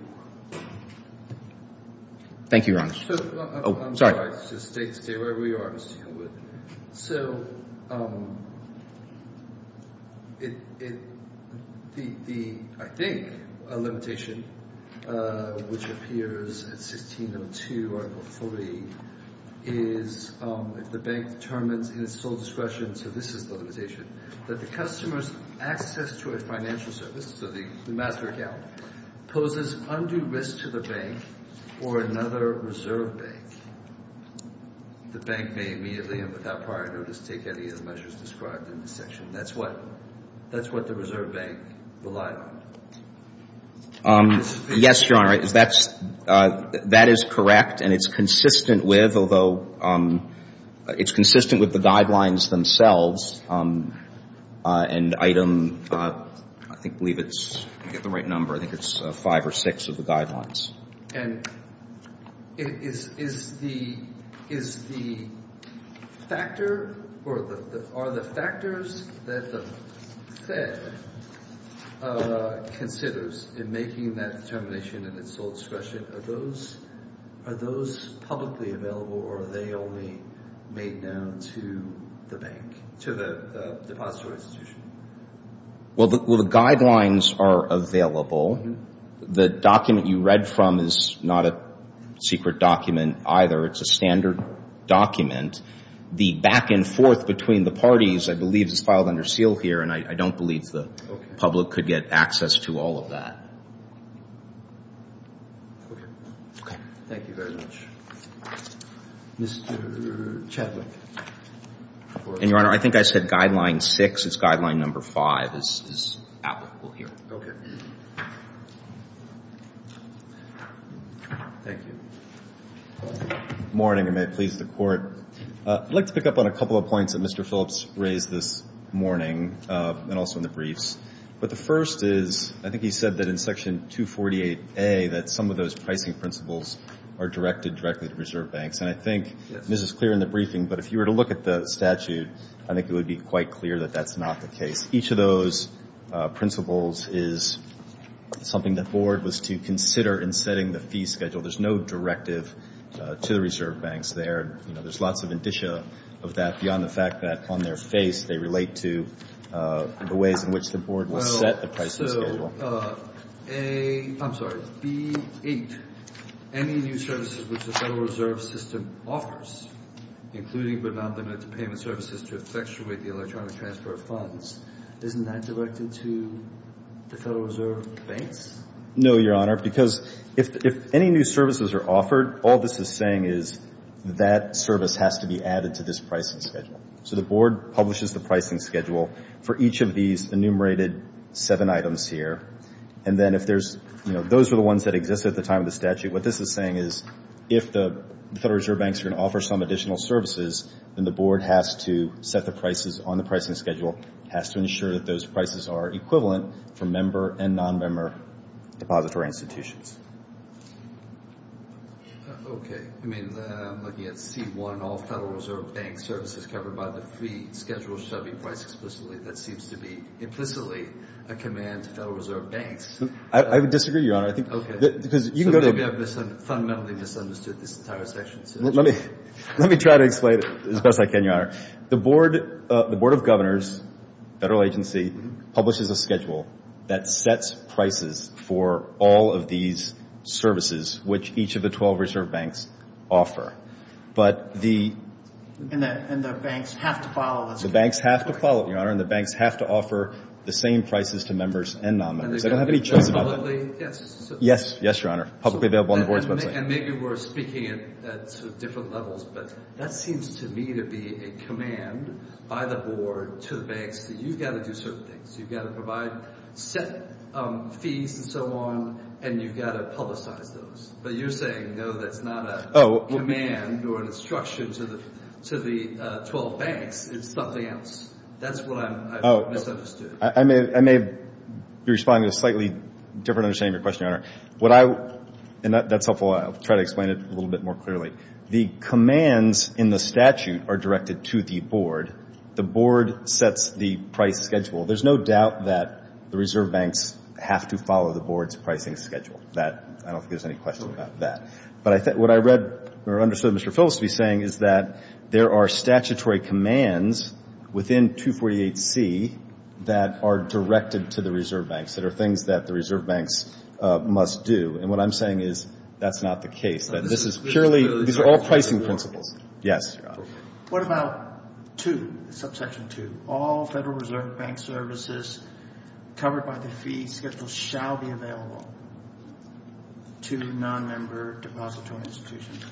Thank you, Your Honor. I'm sorry. Just stay where we are, Mr. Hewitt. So the, I think, limitation, which appears in 1602 Article 3, is if the bank determines in its sole discretion, so this is the limitation, that the customer's access to a financial service, so the master account, poses undue risk to the bank or another reserve bank. The bank may immediately and without prior notice take any of the measures described in this section. That's what, that's what the reserve bank relied on. Yes, Your Honor, that's, that is correct and it's consistent with, although, it's consistent with the guidelines themselves and item, I think, I believe it's, I get the right number, I think it's five or six of the guidelines. And is, is the, is the factor or the, are the factors that the Fed considers in making that determination in its sole discretion, are those, are those publicly available or are they only made known to the bank, to the depository institution? Well, the guidelines are available. The document you read from is not a secret document either. It's a standard document. The back and forth between the parties, I believe, is filed under seal here and I, I don't believe the public could get access to all of that. Okay. Thank you very much. Mr. Chadwick. And Your Honor, I think I said guideline six. It's guideline number five is, is applicable here. Okay. Thank you. Good morning and may it please the Court. I'd like to pick up on a couple of points that Mr. Phillips raised this morning and also in the briefs. But the first is, I think he said that in section 248A that some of those pricing principles are directed directly to reserve banks. And I think this is clear in the briefing, but if you were to look at the statute, I think it would be quite clear that that's not the case. Each of those principles is something the Board was to consider in setting the fee schedule. There's no directive to the reserve banks there. You know, there's lots of indicia of that beyond the fact that on their face they relate to the ways in which the Board will set the pricing schedule. Well, so, A, I'm sorry, B8, any new services which the Federal Reserve System offers, including but not limited to payment services to effectuate the electronic transfer of funds, isn't that directed to the Federal Reserve banks? No, Your Honor, because if any new services are offered, all this is saying is that service has to be added to this pricing schedule. So the Board publishes the pricing schedule for each of these enumerated seven items here. And then if there's, you know, those are the ones that exist at the time of the statute. What this is saying is if the Federal Reserve banks are going to offer some additional services, then the Board has to set the prices on the pricing schedule, has to ensure that those prices are equivalent for member and non-member depository institutions. Okay. I mean, looking at C1, all Federal Reserve bank services covered by the fee schedule shall be priced explicitly. That seems to be implicitly a command to Federal Reserve banks. I would disagree, Your Honor. Okay. So maybe I've fundamentally misunderstood this entire section. Let me try to explain it as best I can, Your Honor. The Board of Governors, Federal agency, publishes a schedule that sets prices for all of these services which each of the 12 Reserve banks offer. And the banks have to follow this? The banks have to follow it, Your Honor. And the banks have to offer the same prices to members and non-members. They don't have any choice about that. Yes. Yes, Your Honor. Publicly available on the Board's website. And maybe we're speaking at sort of different levels, but that seems to me to be a command by the Board to the banks that you've got to do certain things. You've got to provide set fees and so on, and you've got to publicize those. But you're saying, no, that's not a command or an instruction to the 12 banks. It's something else. That's what I misunderstood. I may be responding to a slightly different understanding of your question, Your Honor. And that's helpful. I'll try to explain it a little bit more clearly. The commands in the statute are directed to the Board. The Board sets the price schedule. There's no doubt that the Reserve banks have to follow the Board's pricing schedule. I don't think there's any question about that. But what I read or understood Mr. Phillips to be saying is that there are statutory commands within 248C that are directed to the Reserve banks, that are things that the Reserve banks must do. And what I'm saying is that's not the case, that this is purely – these are all pricing principles. Yes, Your Honor. What about 2, subsection 2, all Federal Reserve bank services covered by the fee schedule shall be available to nonmember depository institutions?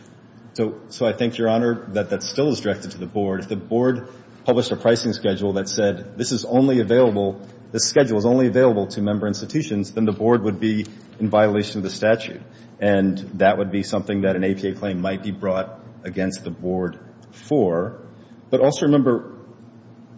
So I think, Your Honor, that that still is directed to the Board. If the Board published a pricing schedule that said this is only available – this schedule is only available to member institutions, then the Board would be in violation of the statute. And that would be something that an APA claim might be brought against the Board for. But also remember,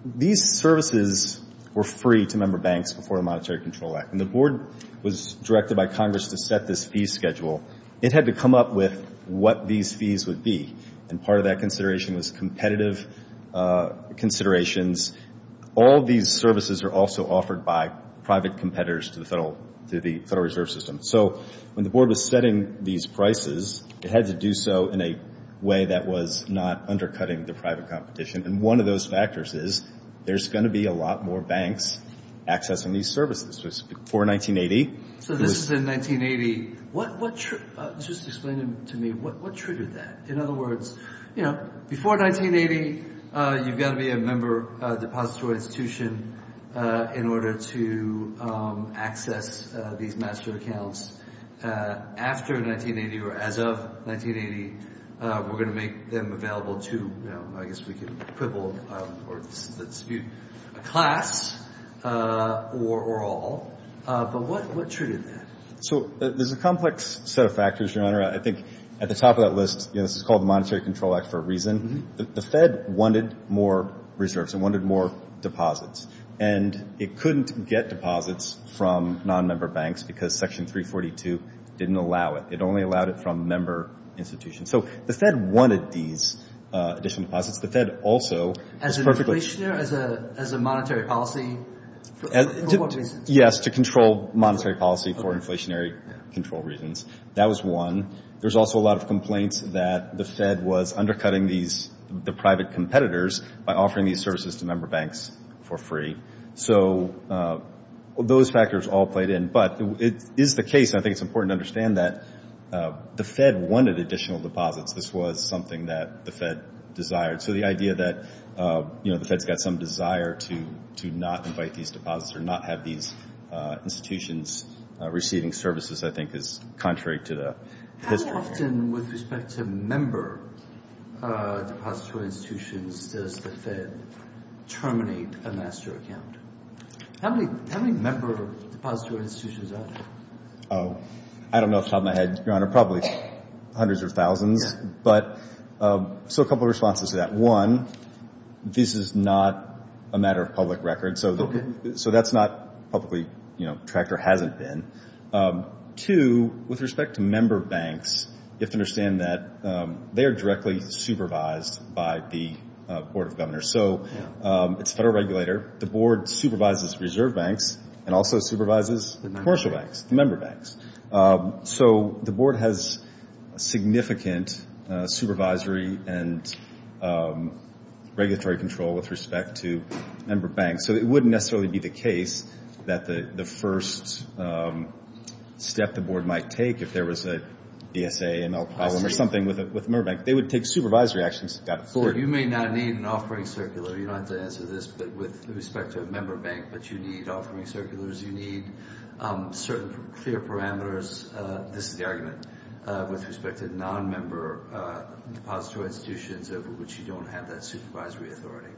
these services were free to member banks before the Monetary Control Act. When the Board was directed by Congress to set this fee schedule, it had to come up with what these fees would be. And part of that consideration was competitive considerations. All these services are also offered by private competitors to the Federal Reserve System. So when the Board was setting these prices, it had to do so in a way that was not undercutting the private competition. And one of those factors is there's going to be a lot more banks accessing these services. So this was before 1980. So this is in 1980. Just explain to me, what triggered that? In other words, you know, before 1980, you've got to be a member depository institution in order to access these master accounts. After 1980 or as of 1980, we're going to make them available to, you know, I guess we could quibble or dispute a class or all. But what triggered that? So there's a complex set of factors, Your Honor. I think at the top of that list, you know, this is called the Monetary Control Act for a reason. The Fed wanted more reserves. It wanted more deposits. And it couldn't get deposits from nonmember banks because Section 342 didn't allow it. It only allowed it from member institutions. So the Fed wanted these additional deposits. The Fed also was perfectly— As an inflationary, as a monetary policy for what reasons? Yes, to control monetary policy for inflationary control reasons. That was one. There's also a lot of complaints that the Fed was undercutting the private competitors by offering these services to member banks for free. So those factors all played in. But it is the case, and I think it's important to understand that the Fed wanted additional deposits. This was something that the Fed desired. So the idea that, you know, the Fed's got some desire to not invite these deposits or not have these institutions receiving services, I think, is contrary to the history. How often with respect to member depository institutions does the Fed terminate a master account? How many member depository institutions are there? Oh, I don't know off the top of my head, Your Honor. Probably hundreds or thousands. Yeah. So a couple of responses to that. One, this is not a matter of public record, so that's not publicly tracked or hasn't been. Two, with respect to member banks, you have to understand that they are directly supervised by the Board of Governors. So it's a federal regulator. The Board supervises reserve banks and also supervises commercial banks, member banks. So the Board has significant supervisory and regulatory control with respect to member banks. So it wouldn't necessarily be the case that the first step the Board might take, if there was a DSA, ML problem, or something with a member bank. They would take supervisory actions. Four, you may not need an offering circular. You don't have to answer this, but with respect to a member bank, but you need offering circulars. You need certain clear parameters. This is the argument with respect to non-member depository institutions over which you don't have that supervisory authority.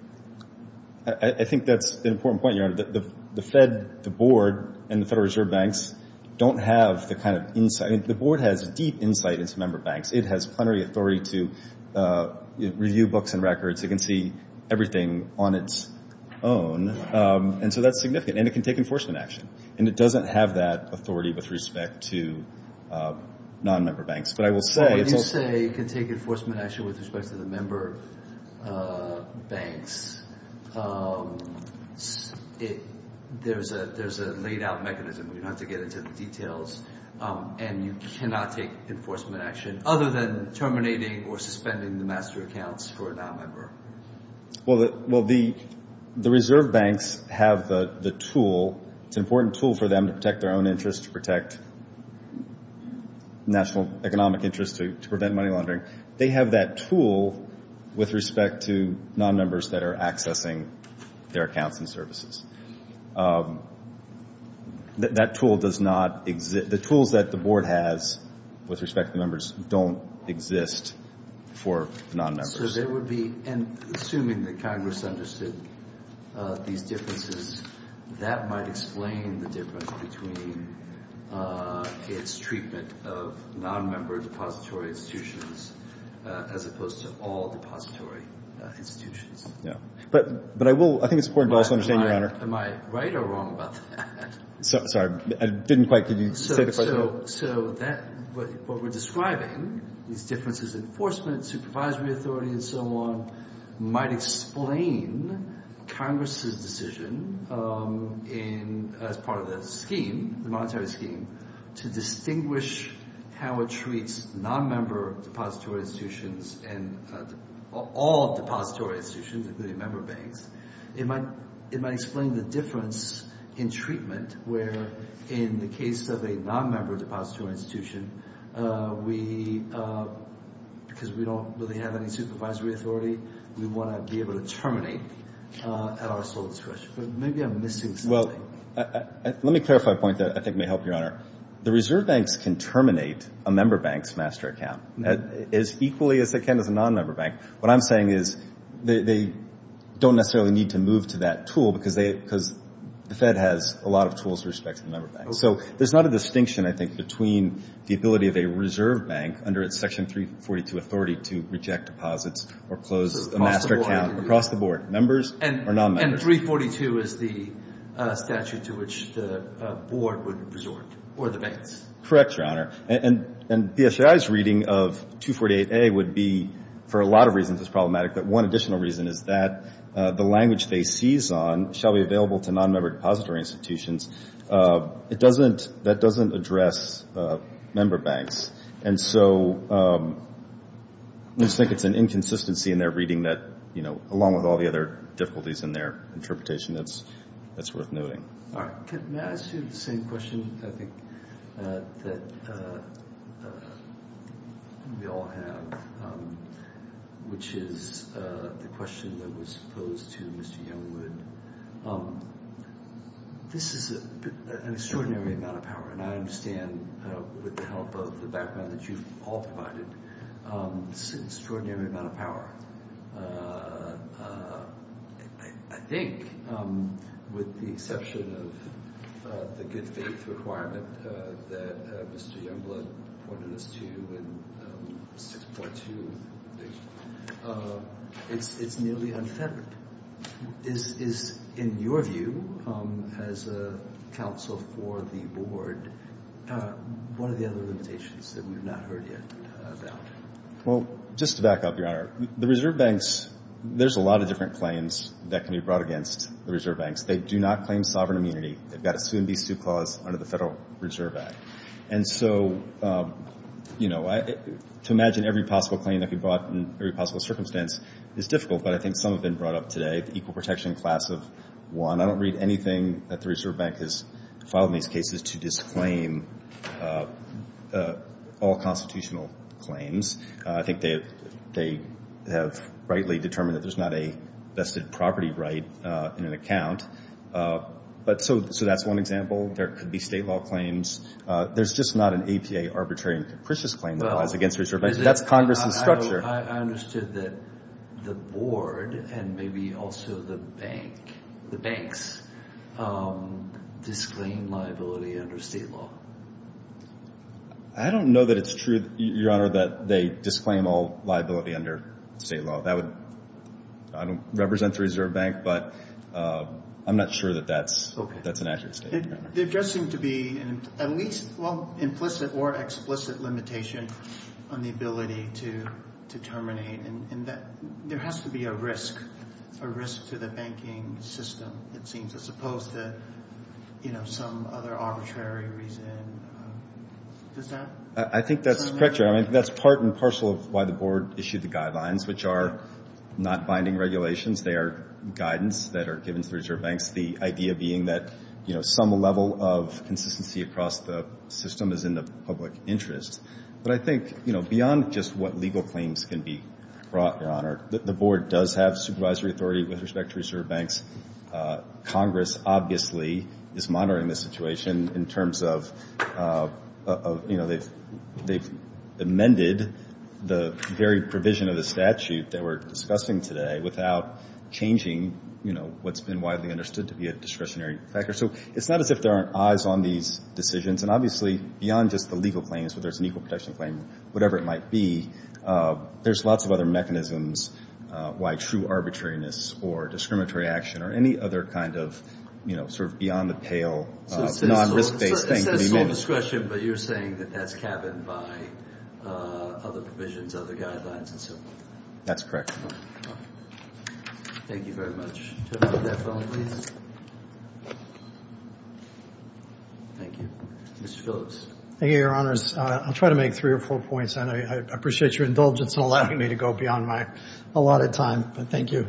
I think that's an important point, Your Honor. The Fed, the Board, and the Federal Reserve Banks don't have the kind of insight. The Board has deep insight into member banks. It has plenary authority to review books and records. It can see everything on its own. And so that's significant. And it can take enforcement action. And it doesn't have that authority with respect to non-member banks. But I will say it's also— When you say it can take enforcement action with respect to the member banks, there's a laid-out mechanism. We don't have to get into the details. And you cannot take enforcement action other than terminating or suspending the master accounts for a non-member. Well, the Reserve Banks have the tool. It's an important tool for them to protect their own interests, to protect national economic interests, to prevent money laundering. They have that tool with respect to non-members that are accessing their accounts and services. That tool does not exist. The tools that the Board has with respect to the members don't exist for non-members. So there would be—assuming that Congress understood these differences, that might explain the difference between its treatment of non-member depository institutions as opposed to all depository institutions. But I will—I think it's important to also understand, Your Honor— Am I right or wrong about that? Sorry, I didn't quite—could you say the question? So that—what we're describing, these differences in enforcement, supervisory authority, and so on, might explain Congress's decision as part of the scheme, the monetary scheme, to distinguish how it treats non-member depository institutions and all depository institutions, including member banks. It might explain the difference in treatment where, in the case of a non-member depository institution, we—because we don't really have any supervisory authority, we want to be able to terminate at our sole discretion. But maybe I'm missing something. Well, let me clarify a point that I think may help, Your Honor. The reserve banks can terminate a member bank's master account as equally as they can as a non-member bank. What I'm saying is they don't necessarily need to move to that tool because they— because the Fed has a lot of tools with respect to the member banks. So there's not a distinction, I think, between the ability of a reserve bank under its Section 342 authority to reject deposits or close a master account across the board, members or non-members. And 342 is the statute to which the board would resort or the banks. Correct, Your Honor. And BSAI's reading of 248A would be, for a lot of reasons it's problematic, but one additional reason is that the language they seize on shall be available to non-member depository institutions. It doesn't—that doesn't address member banks. And so I just think it's an inconsistency in their reading that, you know, along with all the other difficulties in their interpretation, that's worth noting. All right. Can I ask you the same question, I think, that we all have, which is the question that was posed to Mr. Youngwood? This is an extraordinary amount of power, and I understand with the help of the background that you've all provided, this is an extraordinary amount of power. I think, with the exception of the good faith requirement that Mr. Youngwood pointed us to in 6.2, it's nearly unfettered. Is, in your view, as a counsel for the board, what are the other limitations that we've not heard yet about? Well, just to back up, Your Honor, the Reserve Banks, there's a lot of different claims that can be brought against the Reserve Banks. They do not claim sovereign immunity. They've got a sue-and-be-sue clause under the Federal Reserve Act. And so, you know, to imagine every possible claim that could be brought in every possible circumstance is difficult, but I think some have been brought up today, the equal protection class of one. I don't read anything that the Reserve Bank has filed in these cases to disclaim all constitutional claims. I think they have rightly determined that there's not a vested property right in an account. But so that's one example. There could be state law claims. There's just not an APA arbitrary and capricious claim that goes against the Reserve Bank. That's Congress's structure. I understood that the board and maybe also the bank, the banks, disclaim liability under state law. I don't know that it's true, Your Honor, that they disclaim all liability under state law. That would represent the Reserve Bank, but I'm not sure that that's an accurate statement. It does seem to be at least, well, implicit or explicit limitation on the ability to terminate, and that there has to be a risk, a risk to the banking system, it seems, as opposed to, you know, some other arbitrary reason. Does that? I think that's correct, Your Honor. I think that's part and parcel of why the board issued the guidelines, which are not binding regulations. They are guidance that are given to Reserve Banks, the idea being that, you know, some level of consistency across the system is in the public interest. But I think, you know, beyond just what legal claims can be brought, Your Honor, the board does have supervisory authority with respect to Reserve Banks. Congress obviously is monitoring the situation in terms of, you know, they've amended the very provision of the statute that we're discussing today without changing, you know, what's been widely understood to be a discretionary factor. So it's not as if there aren't eyes on these decisions. And obviously, beyond just the legal claims, whether it's an equal protection claim, whatever it might be, there's lots of other mechanisms why true arbitrariness or discriminatory action or any other kind of, you know, sort of beyond the pale, non-risk-based thing can be made. So it says sole discretion, but you're saying that that's cabined by other provisions, other guidelines, and so forth. That's correct. Thank you very much. Turn off that phone, please. Thank you. Mr. Phillips. Thank you, Your Honors. I'll try to make three or four points, and I appreciate your indulgence in allowing me to go beyond my allotted time. But thank you.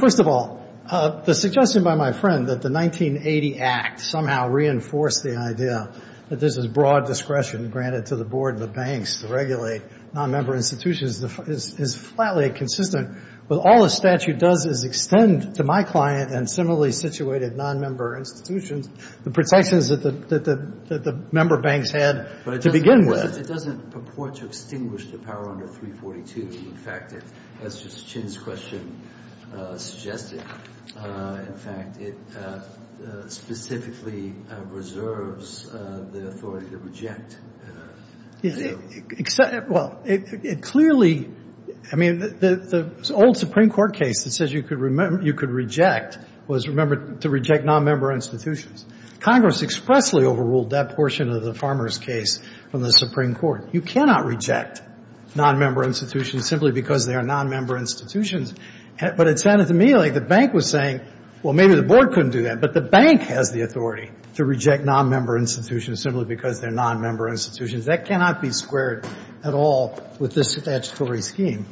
First of all, the suggestion by my friend that the 1980 Act somehow reinforced the idea that this is broad discretion granted to the board and the banks to regulate nonmember institutions is flatly consistent with all the statute does is extend to my client and similarly situated nonmember institutions the protections that the member banks had to begin with. But it doesn't purport to extinguish the power under 342. In fact, as Justice Chin's question suggested, in fact, it specifically reserves the authority to reject. Well, it clearly, I mean, the old Supreme Court case that says you could reject was to reject nonmember institutions. Congress expressly overruled that portion of the Farmers case from the Supreme Court. You cannot reject nonmember institutions simply because they are nonmember institutions. But it sounded to me like the bank was saying, well, maybe the board couldn't do that, but the bank has the authority to reject nonmember institutions simply because they're nonmember institutions. That cannot be squared at all with this statutory scheme.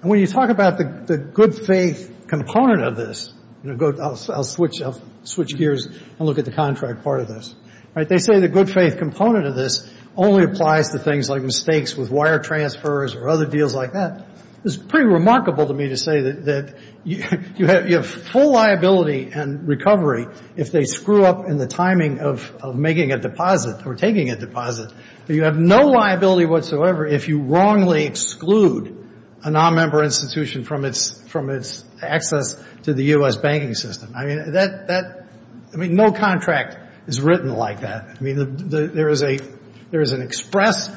And when you talk about the good faith component of this, I'll switch gears and look at the contract part of this. They say the good faith component of this only applies to things like mistakes with wire transfers or other deals like that. It's pretty remarkable to me to say that you have full liability and recovery if they screw up in the timing of making a deposit or taking a deposit. You have no liability whatsoever if you wrongly exclude a nonmember institution from its access to the U.S. banking system. I mean, no contract is written like that. I mean, there is an express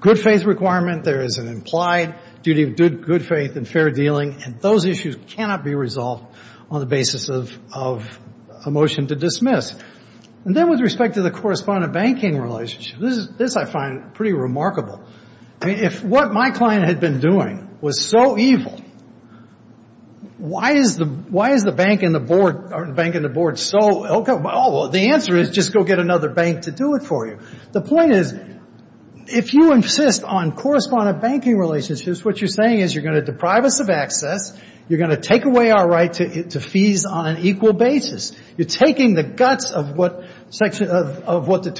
good faith requirement. There is an implied duty of good faith and fair dealing. And those issues cannot be resolved on the basis of a motion to dismiss. And then with respect to the correspondent banking relationship, this I find pretty remarkable. If what my client had been doing was so evil, why is the bank and the board so ill-covered? Well, the answer is just go get another bank to do it for you. The point is if you insist on correspondent banking relationships, what you're saying is you're going to deprive us of access, you're going to take away our right to fees on an equal basis. You're taking the guts of what the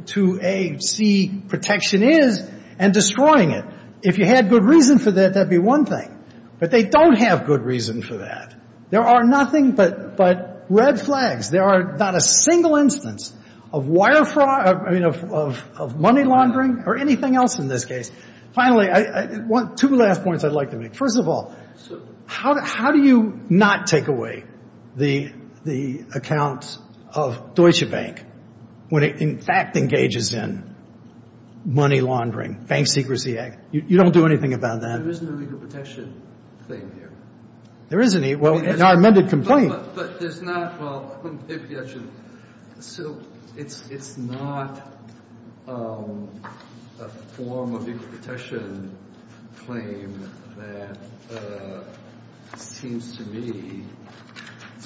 242A-C protection is and destroying it. If you had good reason for that, that would be one thing. But they don't have good reason for that. There are nothing but red flags. There are not a single instance of money laundering or anything else in this case. Finally, two last points I'd like to make. First of all, how do you not take away the account of Deutsche Bank when it, in fact, engages in money laundering, bank secrecy? You don't do anything about that. There isn't a legal protection claim here. There is an equal ‑‑ well, in our amended complaint. But there's not ‑‑ well, if you actually ‑‑ so it's not a form of equal protection claim that seems to me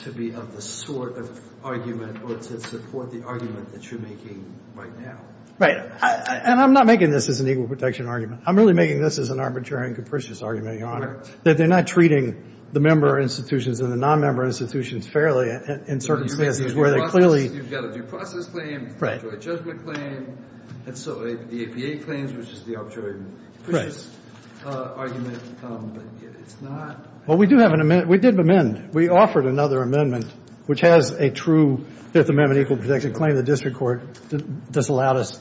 to be of the sort of argument or to support the argument that you're making right now. Right. And I'm not making this as an equal protection argument. I'm really making this as an arbitrary and capricious argument, Your Honor, that they're not treating the member institutions and the nonmember institutions fairly in certain cases where they clearly ‑‑ You've got a due process claim, arbitrary judgment claim. And so the APA claims was just the arbitrary and capricious argument. But it's not ‑‑ Well, we do have an amendment. We did amend. We offered another amendment, which has a true Fifth Amendment equal protection claim. The district court disallowed us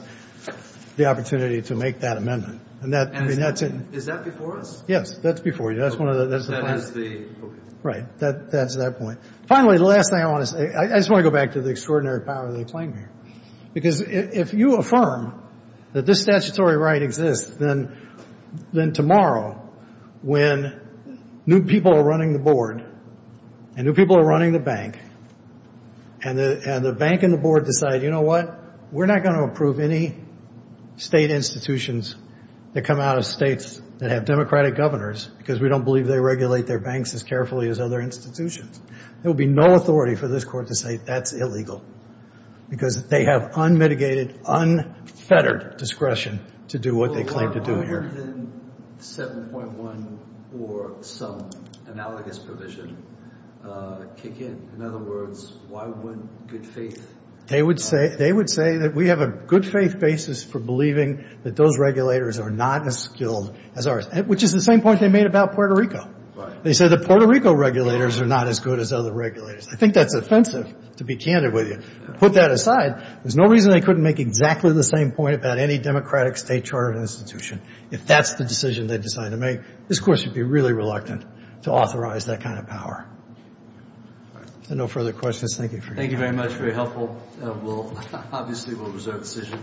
the opportunity to make that amendment. And that's in ‑‑ Is that before us? Yes, that's before you. That's one of the ‑‑ That is the ‑‑ Right. That's that point. Finally, the last thing I want to say ‑‑ I just want to go back to the extraordinary power of the claim here. Because if you affirm that this statutory right exists, then tomorrow when new people are running the board and new people are running the bank and the bank and the board decide, you know what, we're not going to approve any state institutions that come out of states that have democratic governors because we don't believe they regulate their banks as carefully as other institutions. There will be no authority for this court to say that's illegal because they have unmitigated, unfettered discretion to do what they claim to do here. Why wouldn't 7.1 or some analogous provision kick in? In other words, why wouldn't good faith ‑‑ They would say that we have a good faith basis for believing that those regulators are not as skilled as ours, which is the same point they made about Puerto Rico. They said the Puerto Rico regulators are not as good as other regulators. I think that's offensive, to be candid with you. Put that aside, there's no reason they couldn't make exactly the same point about any democratic state chartered institution if that's the decision they decide to make. This court should be really reluctant to authorize that kind of power. If there are no further questions, thank you for ‑‑ Thank you very much, very helpful. Obviously we'll reserve the decision.